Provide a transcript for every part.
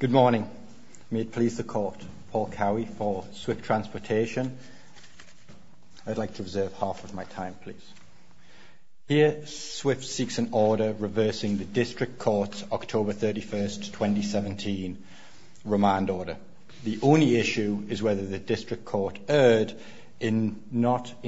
Good morning. May it please the Court, Paul Cowie for Swift Transportation. I'd like to reserve half of my time, please. Here, Swift seeks an order reversing the District Court's October 31, 2017, remand order. The only issue is whether the District Court erred in not First,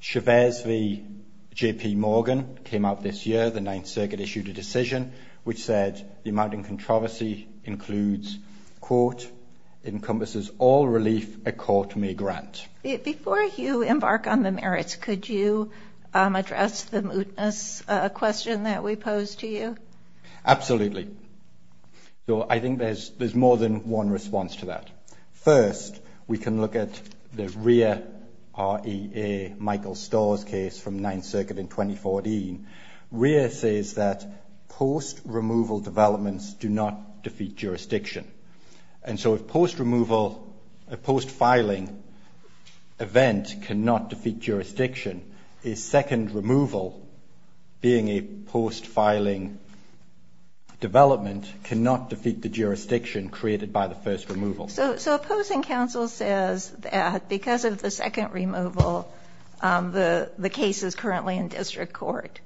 Chavez v. J.P. Morgan came out this year. The Ninth Circuit issued a decision which said the amount in controversy includes, quote, encompasses all relief a court may grant. Before you embark on the merits, could you address the mootness question that we posed to you? Absolutely. So I think there's there's more than one response to that. First, we can look at the Rea, R-E-A, Michael Starr's case from Ninth Circuit in 2014. Rea says that post-removal developments do not defeat jurisdiction. And so if post-removal, a post-filing event cannot defeat jurisdiction, a second removal, being a post-filing development, cannot defeat the jurisdiction created by the post-removal. So opposing counsel says that because of the second removal, the case is currently in District Court.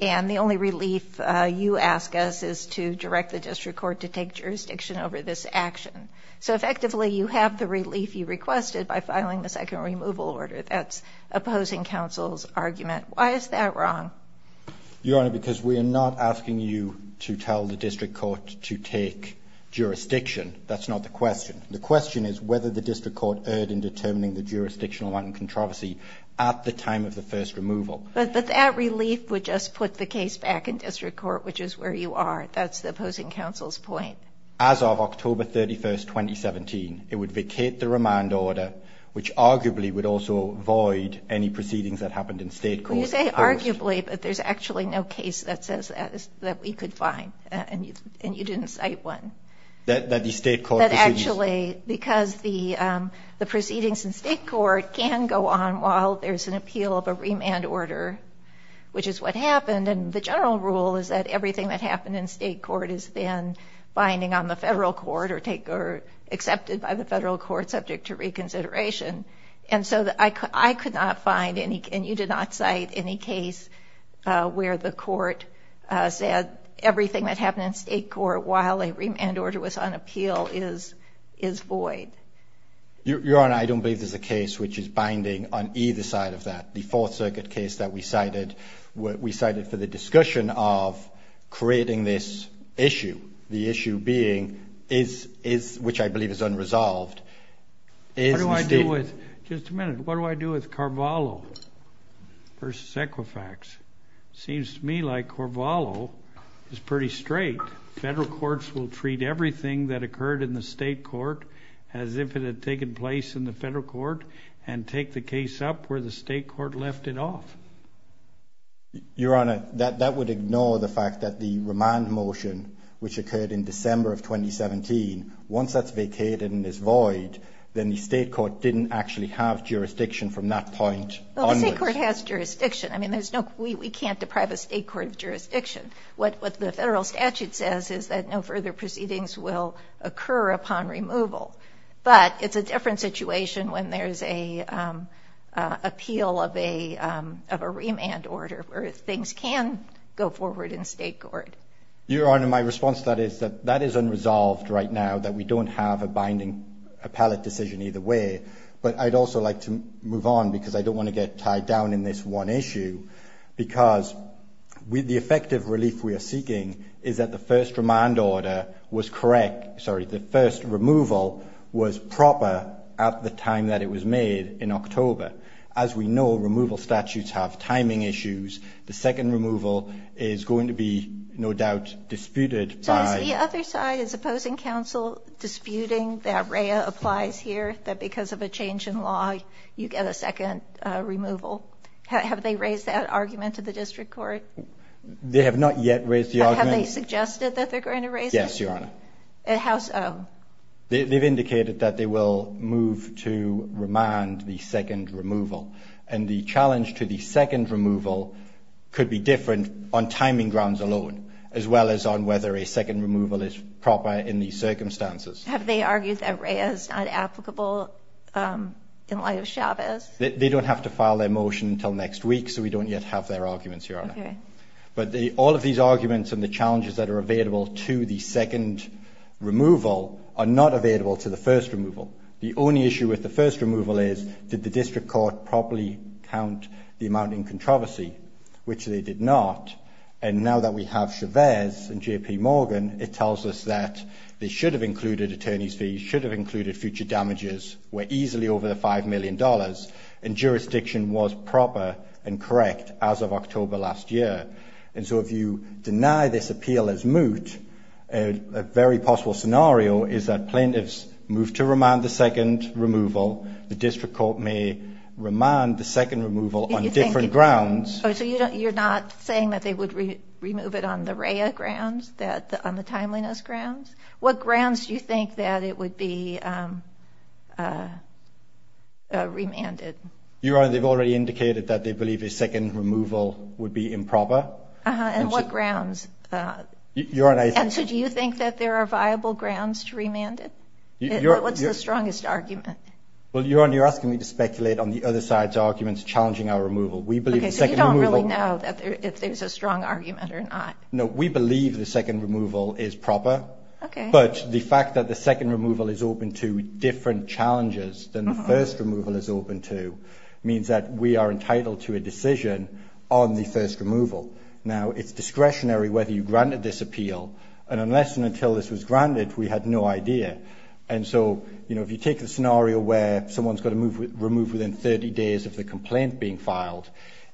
And the only relief you ask us is to direct the District Court to take jurisdiction over this action. So effectively, you have the relief you requested by filing the second removal order. That's opposing counsel's argument. Why is that wrong? Your Honor, because we are not asking you to tell the District Court to take jurisdiction. That's not the question. The question is whether the District Court erred in determining the jurisdictional amount and controversy at the time of the first removal. But that relief would just put the case back in District Court, which is where you are. That's the opposing counsel's point. As of October 31st, 2017, it would vacate the remand order, which arguably would also void any case that says that we could find. And you didn't cite one. That actually, because the proceedings in State Court can go on while there's an appeal of a remand order, which is what happened. And the general rule is that everything that happened in State Court is then binding on the federal court or accepted by the federal court subject to reconsideration. And so I could not find any, and you did not cite any case where the court said everything that happened in State Court while a remand order was on appeal is void. Your Honor, I don't believe there's a case which is binding on either side of that. The Fourth Circuit case that we cited, we cited for the discussion of creating this issue. The issue being, is, which I believe is unresolved. What do I do with, just a minute, what do I do with versus Equifax? Seems to me like Corvallo is pretty straight. Federal courts will treat everything that occurred in the state court as if it had taken place in the federal court and take the case up where the state court left it off. Your Honor, that would ignore the fact that the remand motion, which occurred in December of 2017, once that's vacated and is void, then the state court didn't actually have jurisdiction from that point onwards. Well, the state court has jurisdiction. I mean, there's no, we can't deprive a state court of jurisdiction. What the federal statute says is that no further proceedings will occur upon removal. But it's a different situation when there's an appeal of a remand order where things can go forward in state court. Your Honor, my response to that is that that is unresolved right now, that we don't have a pallet decision either way. But I'd also like to move on, because I don't want to get tied down in this one issue, because the effective relief we are seeking is that the first remand order was correct, sorry, the first removal was proper at the time that it was made in October. As we know, removal statutes have timing issues. The second removal is going to be, no doubt, disputed by... I realize here that because of a change in law, you get a second removal. Have they raised that argument to the district court? They have not yet raised the argument. Have they suggested that they're going to raise it? Yes, Your Honor. They've indicated that they will move to remand the second removal. And the challenge to the second removal could be different on timing grounds alone, as well as on whether a second removal is proper in these terms. Is that applicable in light of Chavez? They don't have to file their motion until next week, so we don't yet have their arguments, Your Honor. But all of these arguments and the challenges that are available to the second removal are not available to the first removal. The only issue with the first removal is, did the district court properly count the amount in controversy, which they did not. And now that we have Chavez and J.P. Morgan, it tells us that they should have included attorney's fees, should have included future damages, were easily over the $5 million, and jurisdiction was proper and correct as of October last year. And so if you deny this appeal as moot, a very possible scenario is that plaintiffs move to remand the second removal, the district court may remand the second removal on different grounds. So you're not saying that they would remove it on the REIA grounds, on the timeliness grounds? What grounds do you think that it would be remanded? Your Honor, they've already indicated that they believe a second removal would be improper. And what grounds? And so do you think that there are viable grounds to remand it? What's the strongest argument? Well, Your Honor, you're asking me to speculate on the other side's Okay, so you don't really know if there's a strong argument or not? No, we believe the second removal is proper. But the fact that the second removal is open to different challenges than the first removal is open to means that we are entitled to a decision on the first removal. Now, it's discretionary whether you granted this appeal. And unless and until this was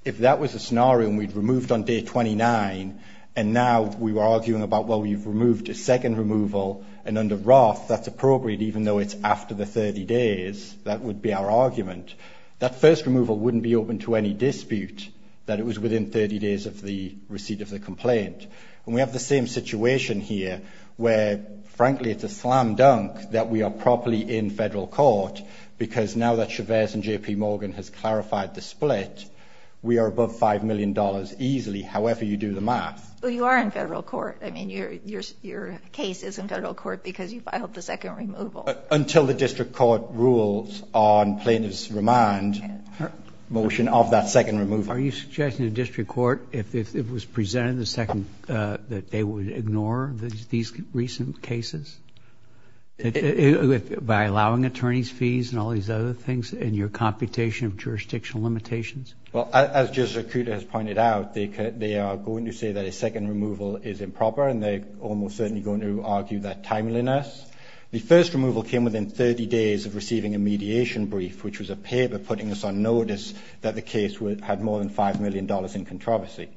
If that was a scenario and we'd removed on day 29, and now we were arguing about, well, we've removed a second removal, and under Roth, that's appropriate, even though it's after the 30 days, that would be our argument. That first removal wouldn't be open to any dispute that it was within 30 days of the receipt of the complaint. And we have the same situation here, where, frankly, it's a slam dunk that we are properly in federal court, because now that Chavez and JP Morgan has clarified the split, we are above $5 million easily, however you do the math. Well, you are in federal court. I mean, your case is in federal court because you filed the second removal. Well, until the district court rules on plaintiff's remand motion of that second removal. Are you suggesting the district court, if it was presented in the second, that they would ignore these recent cases by allowing attorney's fees and all these other things in your computation of jurisdictional limitations? Well, as Judge Zakuda has pointed out, they are going to say that a second removal is improper, and they're almost certainly going to argue that timeliness. The first removal came within 30 days of receiving a mediation brief, which was a paper putting us on notice that the case had more than $5 million in controversy.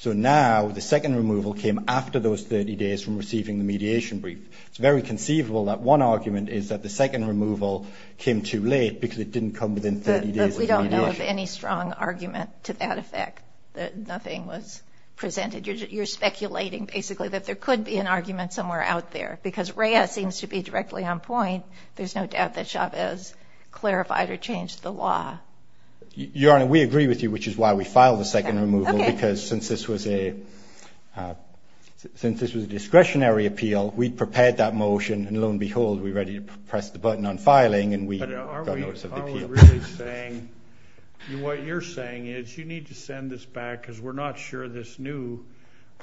So now, the second removal came after those 30 days from receiving the mediation brief. It's very conceivable that one argument is that the second removal came too late because it didn't come within 30 days of the mediation. But we don't know of any strong argument to that effect, that nothing was presented. You're speculating, basically, that there could be an argument somewhere out there, because Reyes seems to be directly on point. There's no doubt that Chavez clarified or changed the law. Your Honor, we agree with you, which is why we filed the second removal, because since this was a discretionary appeal, we prepared that motion, and lo and behold, we're ready to press the button on filing, and we got notice of the appeal. I'm really saying, what you're saying is, you need to send this back, because we're not sure this new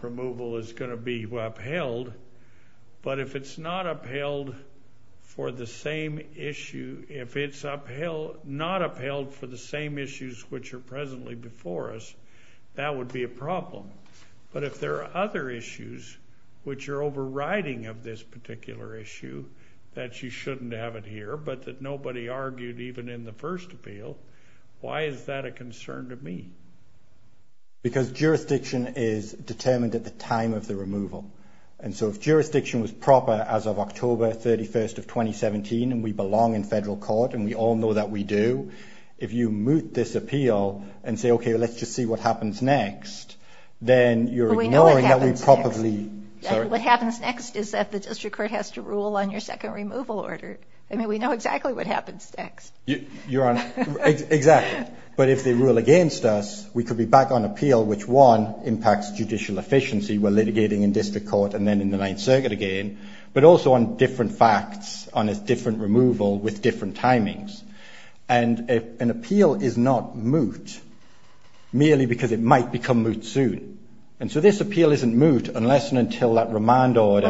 removal is going to be upheld. But if it's not upheld for the same issue, if it's not upheld for the same issues which are presently before us, that would be a problem. But if there are other issues which are overriding of this particular issue, that you shouldn't have it here, but that nobody argued even in the first appeal, why is that a concern to me? Because jurisdiction is determined at the time of the removal. And so if jurisdiction was proper as of October 31st of 2017, and we belong in federal court, and we all know that we do, if you moot this appeal, and say, okay, let's just see what happens next, then you're ignoring that we probably... But we know what happens next. Sorry? What happens next is that the district court has to rule on your second removal order. I mean, we know exactly what happens next. Your Honor, exactly. But if they rule against us, we could be back on appeal which, one, impacts judicial efficiency, we're litigating in district court and then in the Ninth Circuit again, but also on different facts, on a different removal with different timings. And an appeal is not moot merely because it might become moot soon. And so this appeal isn't moot unless and until that remand order...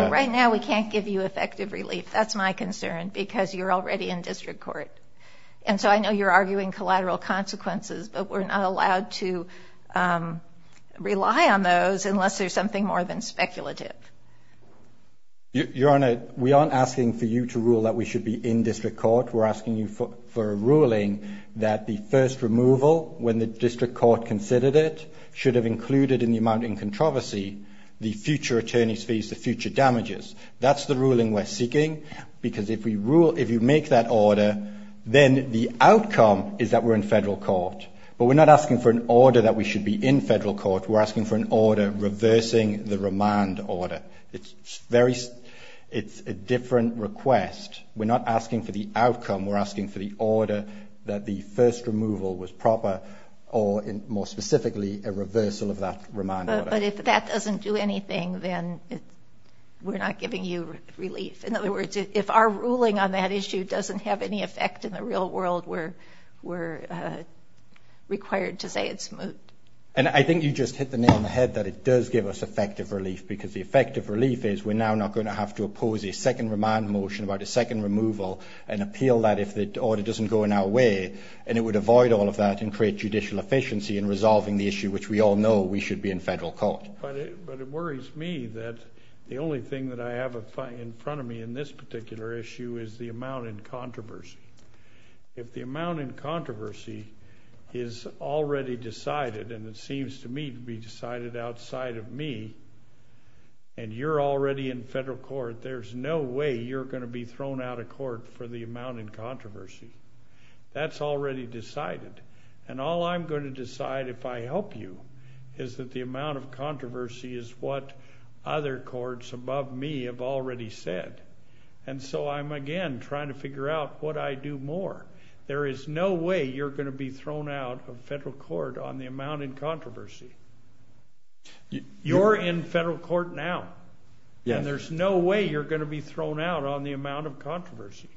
And so I know you're arguing collateral consequences, but we're not allowed to rely on those unless there's something more than speculative. Your Honor, we aren't asking for you to rule that we should be in district court. We're asking you for a ruling that the first removal, when the district court considered it, should have included in the amount in controversy the future attorney's fees, the future damages. That's the ruling we're seeking because if you make that order, then the outcome is that we're in federal court. But we're not asking for an order that we should be in federal court. We're asking for an order reversing the remand order. It's a different request. We're not asking for the outcome. We're asking for the order that the first removal was proper or, more specifically, a reversal of that remand order. But if that doesn't do anything, then we're not giving you relief. In other words, if our ruling on that issue doesn't have any effect in the real world, we're required to say it's moot. And I think you just hit the nail on the head that it does give us effective relief because the effective relief is we're now not going to have to oppose a second remand motion about a second removal and appeal that if the order doesn't go in our way. And it would avoid all of that and create judicial efficiency in resolving the issue, which we all know we should be in federal court. But it worries me that the only thing that I have in front of me in this particular issue is the amount in controversy. If the amount in controversy is already decided, and it seems to me to be decided outside of me, and you're already in federal court, there's no way you're going to be thrown out of court for the amount in controversy. That's already decided. And all I'm going to decide if I help you is that the amount of controversy is what other courts above me have already said. And so I'm, again, trying to figure out what I do more. There is no way you're going to be thrown out of federal court on the amount in controversy. You're in federal court now. And there's no way you're going to be thrown out on the amount of controversy.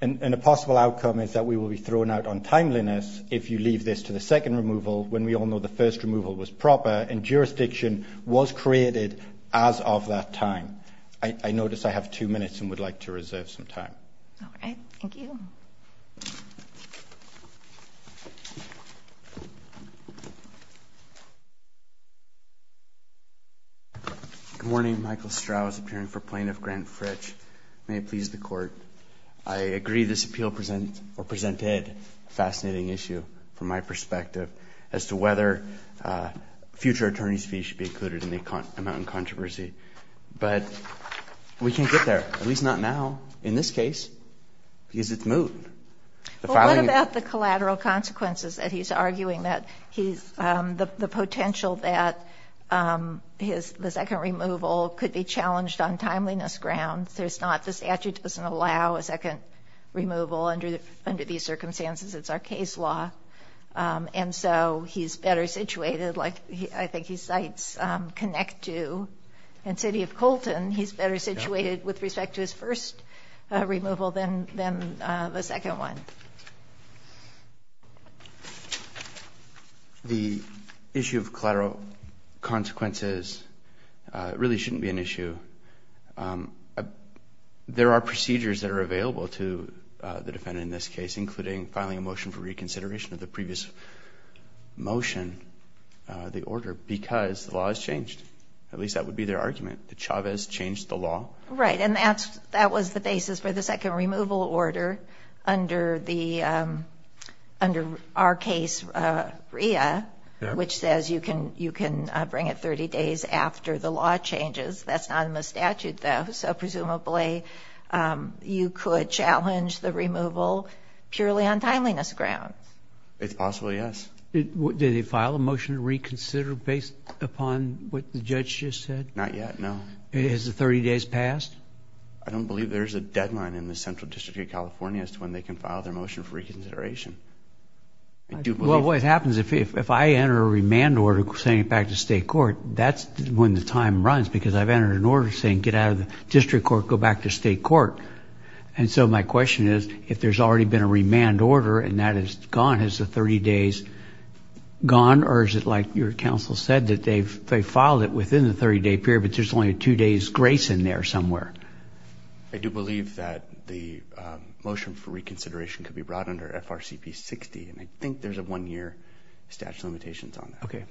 And a possible outcome is that we will be thrown out on timeliness if you leave this to the second removal when we all know the first removal was proper and jurisdiction was created as of that time. I notice I have two minutes and would like to reserve some time. All right. Thank you. Good morning. Michael Strauss, appearing for Plaintiff Grant Fritch. May it please the Court. I agree this appeal presented a fascinating issue from my perspective as to whether future attorney's fees should be included in the amount in controversy. But we can't get there, at least not now, in this case, because it's moot. What about the collateral consequences that he's arguing that the potential that the second removal could be challenged on timeliness grounds? The statute doesn't allow a second removal under these circumstances. It's our case law. And so he's better situated, like I think he cites Connect Two and City of Colton, he's better situated with respect to his first removal than the second one. The issue of collateral consequences really shouldn't be an issue. There are procedures that are available to the defendant in this case, including filing a motion for reconsideration of the previous motion, the order, because the law has changed. At least that would be their argument. Did Chavez change the law? Right. And that was the basis for the second removal order under our case, RIA, which says you can bring it 30 days after the law changes. That's not in the statute, though, so presumably you could challenge the removal purely on timeliness grounds. It's possible, yes. Did they file a motion to reconsider based upon what the judge just said? Not yet, no. Has the 30 days passed? I don't believe there's a deadline in the Central District of California as to when they can file their motion for reconsideration. Well, what happens if I enter a remand order saying back to state court, that's when the time runs, because I've entered an order saying get out of the district court, go back to state court. And so my question is, if there's already been a remand order and that is gone, is the 30 days gone? Or is it like your counsel said, that they filed it within the 30-day period, but there's only a two-days grace in there somewhere? I do believe that the motion for reconsideration could be brought under FRCP 60, and I think there's a one-year statute of limitations on that. Okay.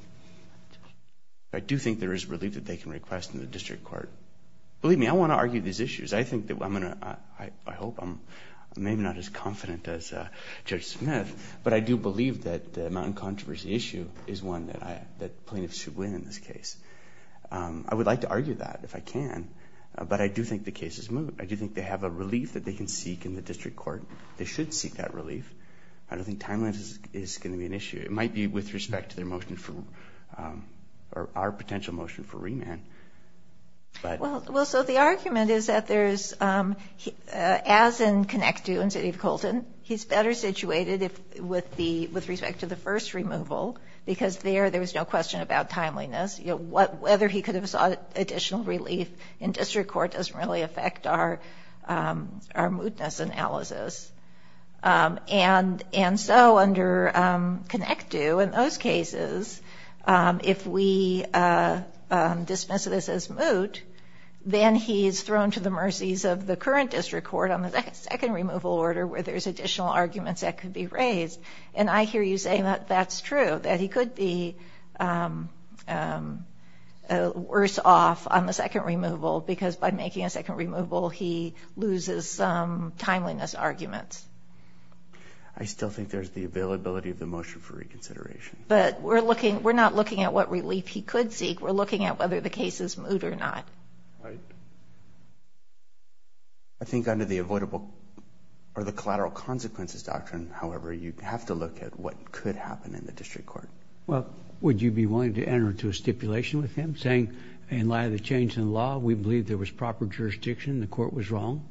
I do think there is relief that they can request in the district court. Believe me, I want to argue these issues. I think that I'm going to – I hope I'm maybe not as confident as Judge Smith, but I do believe that the mountain controversy issue is one that plaintiffs should win in this case. I would like to argue that if I can, but I do think the case is moved. I do think they have a relief that they can seek in the district court. They should seek that relief. I don't think time limit is going to be an issue. It might be with respect to their motion for – or our potential motion for remand. Well, so the argument is that there's – as in connect due in City of Colton, he's better situated with respect to the first removal because there, there was no question about timeliness. Whether he could have sought additional relief in district court doesn't really affect our mootness analysis. And so under connect due in those cases, if we dismiss this as moot, then he's thrown to the mercies of the current district court on the second removal order where there's additional arguments that could be raised. And I hear you saying that that's true, that he could be worse off on the second removal because by making a second removal, he loses timeliness arguments. I still think there's the availability of the motion for reconsideration. But we're looking – we're not looking at what relief he could seek. We're looking at whether the case is moot or not. Right. I think under the avoidable – or the collateral consequences doctrine, however, you have to look at what could happen in the district court. Well, would you be willing to enter into a stipulation with him saying in light of the change in law, we believe there was proper jurisdiction, the court was wrong?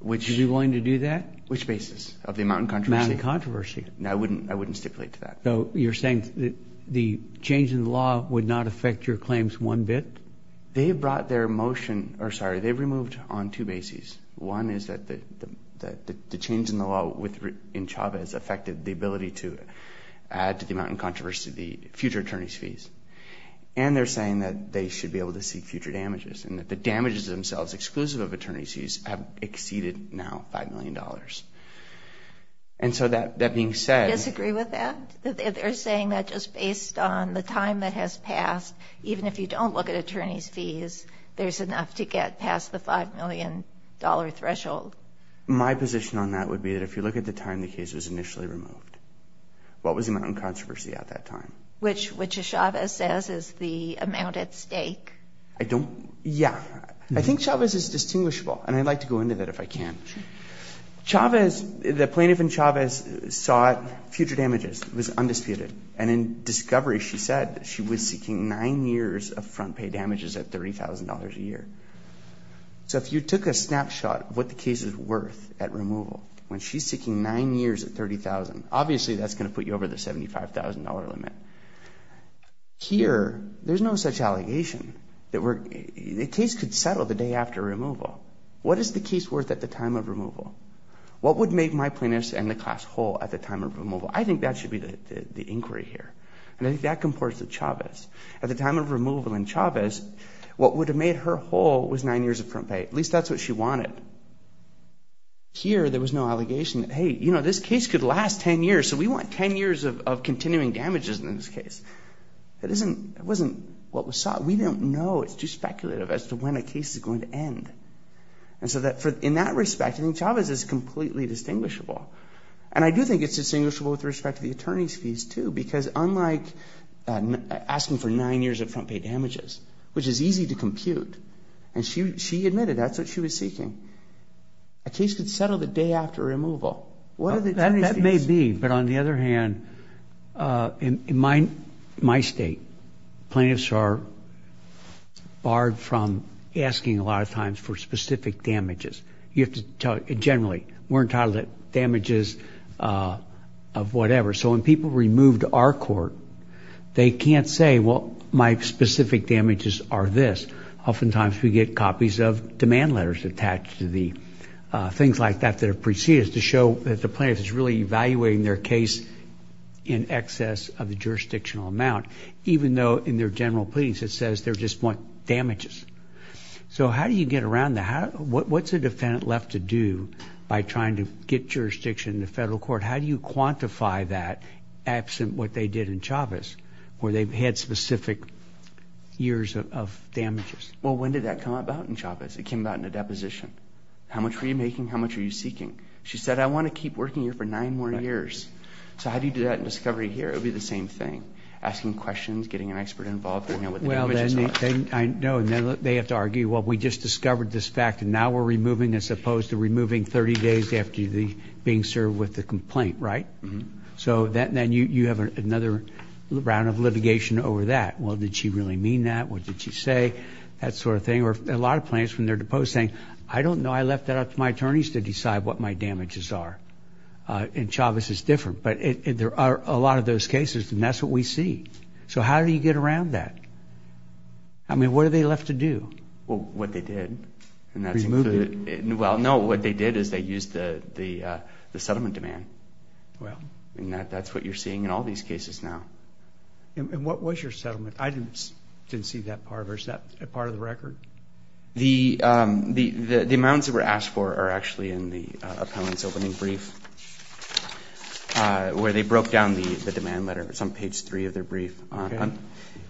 Would you be willing to do that? Which basis? Of the amount in controversy? Amount in controversy. I wouldn't stipulate to that. So you're saying that the change in law would not affect your claims one bit? They brought their motion – or sorry, they removed on two bases. One is that the change in the law in Chavez affected the ability to add to the amount in controversy the future attorney's fees. And they're saying that they should be able to seek future damages and that the damages themselves, exclusive of attorney's fees, have exceeded now $5 million. And so that being said – Disagree with that? They're saying that just based on the time that has passed, even if you don't look at attorney's fees, there's enough to get past the $5 million threshold. My position on that would be that if you look at the time the case was initially removed, what was the amount in controversy at that time? Which Chavez says is the amount at stake. I don't – yeah. I think Chavez is distinguishable, and I'd like to go into that if I can. Sure. Chavez – the plaintiff in Chavez sought future damages. It was undisputed. And in discovery, she said she was seeking nine years of front pay damages at $30,000 a year. So if you took a snapshot of what the case is worth at removal, when she's seeking nine years at $30,000, obviously that's going to put you over the $75,000 limit. Here, there's no such allegation. The case could settle the day after removal. What is the case worth at the time of removal? What would make my plaintiff's and the class whole at the time of removal? I think that should be the inquiry here, and I think that comports to Chavez. At the time of removal in Chavez, what would have made her whole was nine years of front pay. At least that's what she wanted. Here, there was no allegation that, hey, you know, this case could last 10 years, so we want 10 years of continuing damages in this case. That wasn't what was sought. We don't know. It's too speculative as to when a case is going to end. And so in that respect, I think Chavez is completely distinguishable. And I do think it's distinguishable with respect to the attorney's fees, too, because unlike asking for nine years of front pay damages, which is easy to compute, and she admitted that's what she was seeking, a case could settle the day after removal. That may be, but on the other hand, in my state, plaintiffs are barred from asking a lot of times for specific damages. Generally, we're entitled to damages of whatever. So when people were removed to our court, they can't say, well, my specific damages are this. Oftentimes, we get copies of demand letters attached to the things like that that are preceded to show that the plaintiff is really evaluating their case in excess of the jurisdictional amount, even though in their general pleadings it says they just want damages. So how do you get around that? What's a defendant left to do by trying to get jurisdiction in the federal court? How do you quantify that absent what they did in Chavez, where they've had specific years of damages? Well, when did that come about in Chavez? It came about in a deposition. How much were you making? How much were you seeking? She said, I want to keep working here for nine more years. So how do you do that in discovery here? It would be the same thing, asking questions, getting an expert involved. Well, then they have to argue, well, we just discovered this fact, and now we're removing as opposed to removing 30 days after being served with the complaint, right? So then you have another round of litigation over that. Well, did she really mean that? What did she say? That sort of thing. Or a lot of plaintiffs, when they're deposed, saying, I don't know. I left that up to my attorneys to decide what my damages are. In Chavez, it's different. But there are a lot of those cases, and that's what we see. So how do you get around that? I mean, what are they left to do? Well, what they did. Removed it? Well, no, what they did is they used the settlement demand. Well. And that's what you're seeing in all these cases now. And what was your settlement? I didn't see that part of it. Is that part of the record? The amounts that were asked for are actually in the appellant's opening brief, where they broke down the demand letter. It's on page three of their brief.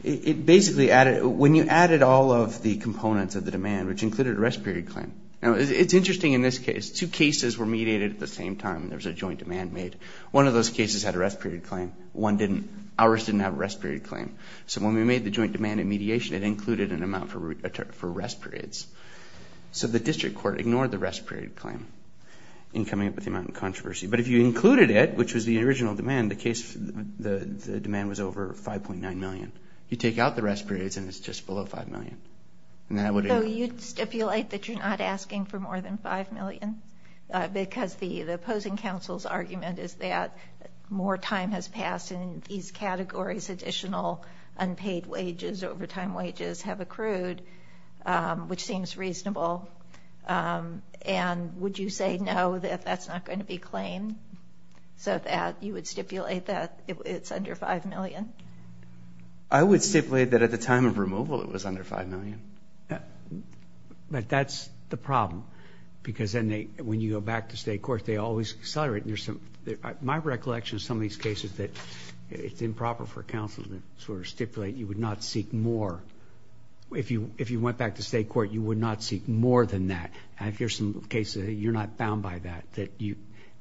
It basically added, when you added all of the components of the demand, which included a rest period claim. Now, it's interesting in this case. Two cases were mediated at the same time, and there was a joint demand made. One of those cases had a rest period claim. One didn't. Ours didn't have a rest period claim. So when we made the joint demand and mediation, it included an amount for rest periods. So the district court ignored the rest period claim in coming up with the amount in controversy. But if you included it, which was the original demand, the demand was over $5.9 million. You take out the rest periods, and it's just below $5 million. So you'd stipulate that you're not asking for more than $5 million, because the opposing counsel's argument is that more time has passed, and in these categories additional unpaid wages, overtime wages, have accrued, which seems reasonable. And would you say no, that that's not going to be claimed, so that you would stipulate that it's under $5 million? I would stipulate that at the time of removal it was under $5 million. But that's the problem, because then when you go back to state court, they always accelerate. My recollection of some of these cases that it's improper for counsel to sort of stipulate you would not seek more. If you went back to state court, you would not seek more than that. And if there's some cases, you're not bound by that.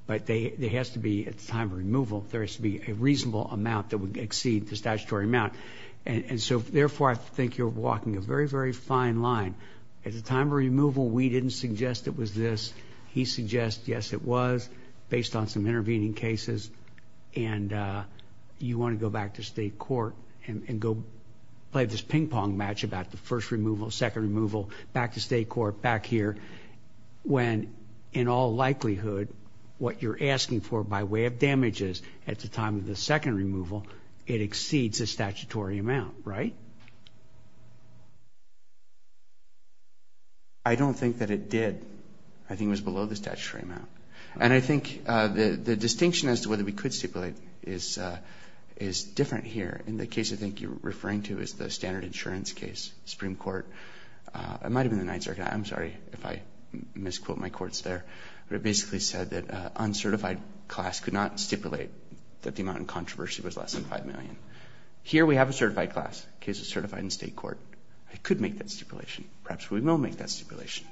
But there has to be, at the time of removal, there has to be a reasonable amount that would exceed the statutory amount. And so, therefore, I think you're walking a very, very fine line. At the time of removal, we didn't suggest it was this. He suggests, yes, it was, based on some intervening cases. And you want to go back to state court and go play this ping-pong match about the first removal, second removal, back to state court, back here, when, in all likelihood, what you're asking for by way of damages at the time of the second removal, it exceeds the statutory amount, right? I don't think that it did. I think it was below the statutory amount. And I think the distinction as to whether we could stipulate is different here. In the case I think you're referring to is the standard insurance case, Supreme Court. It might have been the Ninth Circuit. I'm sorry if I misquote my courts there. But it basically said that an uncertified class could not stipulate that the amount of controversy was less than $5 million. Here we have a certified class, a case of certified in state court. I could make that stipulation. Perhaps we will make that stipulation.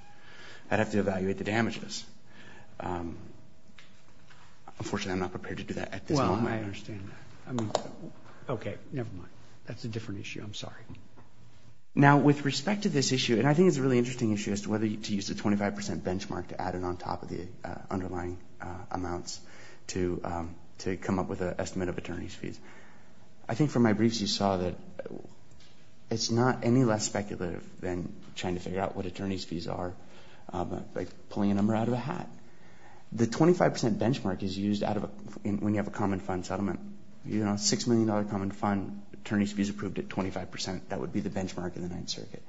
I'd have to evaluate the damages. Unfortunately, I'm not prepared to do that at this moment. I understand that. Okay, never mind. That's a different issue. I'm sorry. Now, with respect to this issue, and I think it's a really interesting issue as to whether to use the 25% benchmark to add it on top of the underlying amounts to come up with an estimate of attorney's fees. I think from my briefs you saw that it's not any less speculative than trying to figure out what attorney's fees are, like pulling a number out of a hat. The 25% benchmark is used when you have a common fund settlement. A $6 million common fund, attorney's fees approved at 25%. That would be the benchmark in the Ninth Circuit.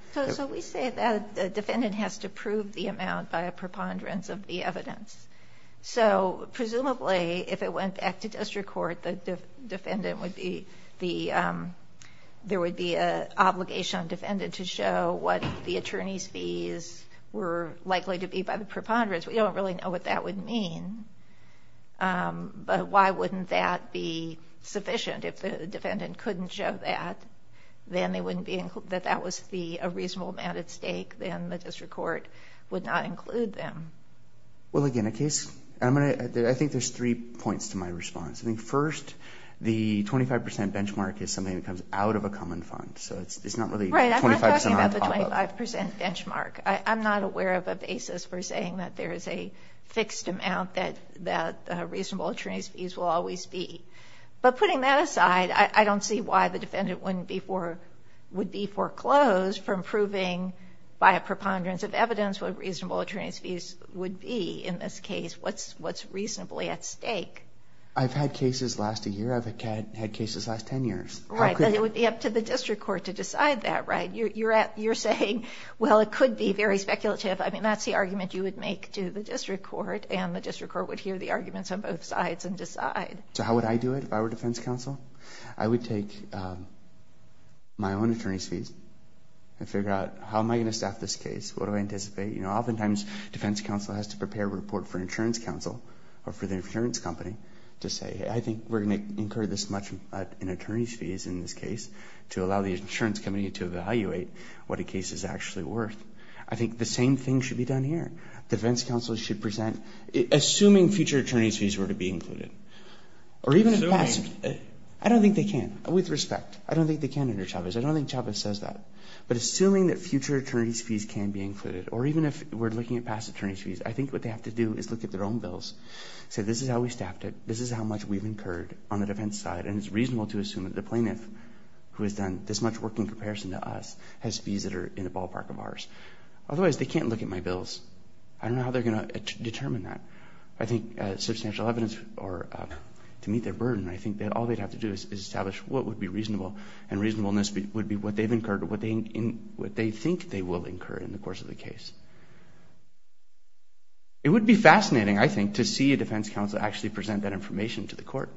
We say that the defendant has to prove the amount by a preponderance of the evidence. Presumably, if it went back to district court, there would be an obligation on the defendant to show what the attorney's fees were likely to be by the preponderance. We don't really know what that would mean, but why wouldn't that be sufficient? If the defendant couldn't show that, that that was a reasonable amount at stake, then the district court would not include them. Well, again, I think there's three points to my response. First, the 25% benchmark is something that comes out of a common fund. Right, I'm not talking about the 25% benchmark. I'm not aware of a basis for saying that there is a fixed amount that reasonable attorney's fees will always be. But putting that aside, I don't see why the defendant would be foreclosed from proving by a preponderance of evidence what reasonable attorney's fees would be in this case, what's reasonably at stake. I've had cases last a year. I've had cases last 10 years. Right, but it would be up to the district court to decide that, right? You're saying, well, it could be very speculative. I mean, that's the argument you would make to the district court, and the district court would hear the arguments on both sides and decide. So how would I do it if I were defense counsel? I would take my own attorney's fees and figure out how am I going to staff this case? What do I anticipate? Oftentimes, defense counsel has to prepare a report for insurance counsel or for the insurance company to say, I think we're going to incur this much in attorney's fees in this case to allow the insurance company to evaluate what a case is actually worth. I think the same thing should be done here. Defense counsel should present, assuming future attorney's fees were to be included. Assuming? I don't think they can, with respect. I don't think they can, Mr. Chavez. I don't think Chavez says that. But assuming that future attorney's fees can be included, or even if we're looking at past attorney's fees, I think what they have to do is look at their own bills, say this is how we staffed it, this is how much we've incurred on the defense side, and it's reasonable to assume that the plaintiff, who has done this much work in comparison to us, has fees that are in the ballpark of ours. Otherwise, they can't look at my bills. I don't know how they're going to determine that. I think substantial evidence to meet their burden, I think that all they'd have to do is establish what would be reasonable, and reasonableness would be what they've incurred or what they think they will incur in the course of the case. It would be fascinating, I think, to see a defense counsel actually present that information to the court,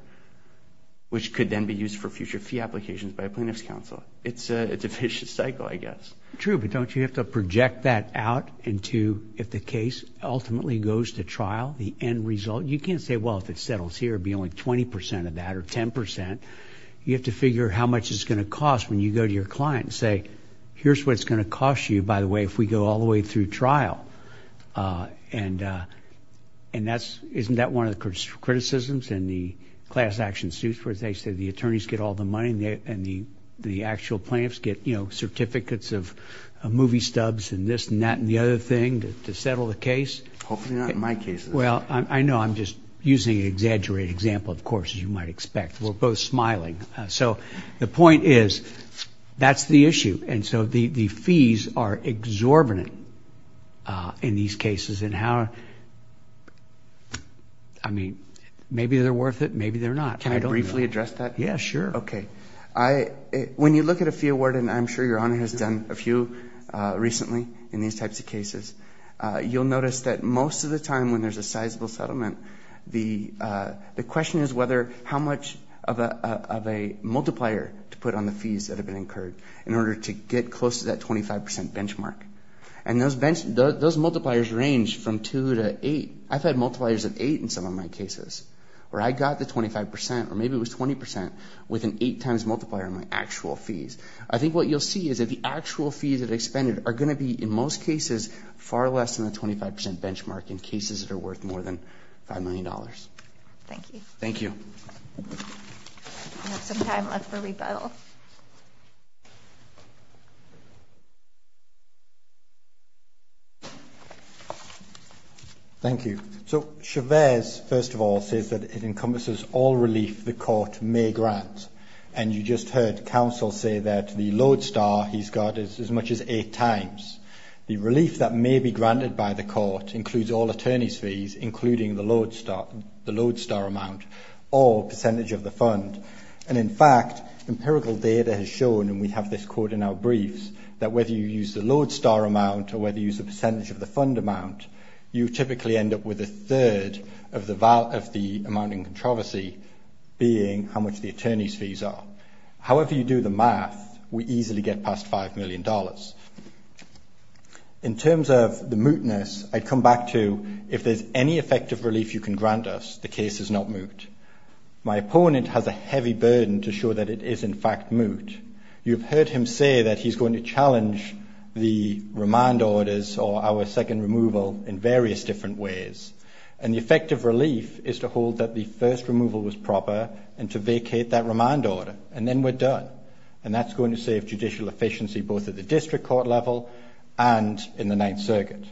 which could then be used for future fee applications by a plaintiff's counsel. It's a vicious cycle, I guess. True, but don't you have to project that out into, if the case ultimately goes to trial, the end result? You can't say, well, if it settles here, it would be only 20% of that or 10%. You have to figure how much it's going to cost when you go to your client and say, here's what it's going to cost you, by the way, if we go all the way through trial. And isn't that one of the criticisms in the class action suits where they say the attorneys get all the money and the actual plaintiffs get certificates of movie stubs and this and that and the other thing to settle the case? Hopefully not in my case. Well, I know I'm just using an exaggerated example, of course, as you might expect. We're both smiling. So the point is that's the issue. And so the fees are exorbitant in these cases. And how, I mean, maybe they're worth it, maybe they're not. Can I briefly address that? Yeah, sure. Okay. When you look at a fee award, and I'm sure Your Honor has done a few recently in these types of cases, you'll notice that most of the time when there's a sizable settlement, the question is how much of a multiplier to put on the fees that have been incurred in order to get close to that 25% benchmark. And those multipliers range from 2 to 8. I've had multipliers of 8 in some of my cases, where I got the 25% or maybe it was 20% with an 8 times multiplier on my actual fees. I think what you'll see is that the actual fees that are expended are going to be, in most cases, far less than the 25% benchmark in cases that are worth more than $5 million. Thank you. Thank you. We have some time left for rebuttal. Thank you. So, Chavez, first of all, says that it encompasses all relief the court may grant. And you just heard counsel say that the load star he's got is as much as 8 times. The relief that may be granted by the court includes all attorney's fees, including the load star amount or percentage of the fund. And, in fact, empirical data has shown, and we have this quote in our briefs, that whether you use the load star amount or whether you use the percentage of the fund amount, you typically end up with a third of the amount in controversy being how much the attorney's fees are. However you do the math, we easily get past $5 million. In terms of the mootness, I come back to if there's any effective relief you can grant us, the case is not moot. My opponent has a heavy burden to show that it is, in fact, moot. You've heard him say that he's going to challenge the remand orders or our second removal in various different ways. And the effective relief is to hold that the first removal was proper and to vacate that remand order. And then we're done. And that's going to save judicial efficiency both at the district court level and in the Ninth Circuit.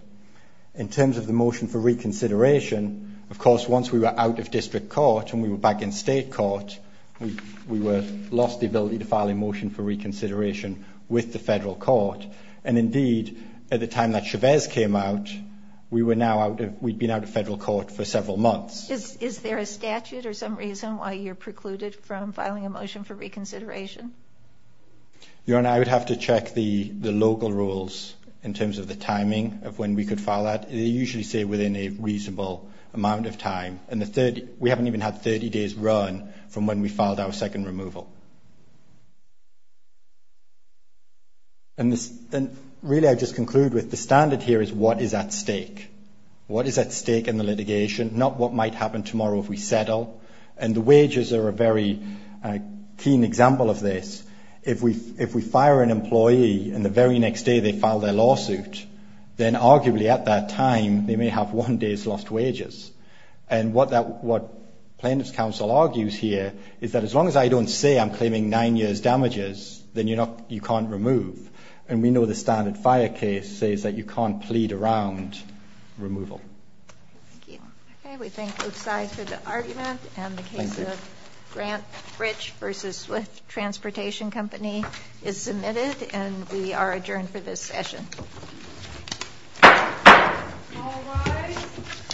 In terms of the motion for reconsideration, of course, once we were out of district court and we were back in state court, we lost the ability to file a motion for reconsideration with the federal court. And, indeed, at the time that Chavez came out, we'd been out of federal court for several months. Is there a statute or some reason why you're precluded from filing a motion for reconsideration? Your Honor, I would have to check the local rules in terms of the timing of when we could file that. They usually say within a reasonable amount of time. And we haven't even had 30 days run from when we filed our second removal. And really I'd just conclude with the standard here is what is at stake. What is at stake in the litigation, not what might happen tomorrow if we settle. And the wages are a very keen example of this. If we fire an employee and the very next day they file their lawsuit, then arguably at that time they may have one day's lost wages. And what plaintiff's counsel argues here is that as long as I don't say I'm claiming nine years' damages, then you can't remove. And we know the standard fire case says that you can't plead around removal. Thank you. Okay, we thank both sides for the argument. And the case of Grant Rich v. Swift Transportation Company is submitted. And we are adjourned for this session. All rise.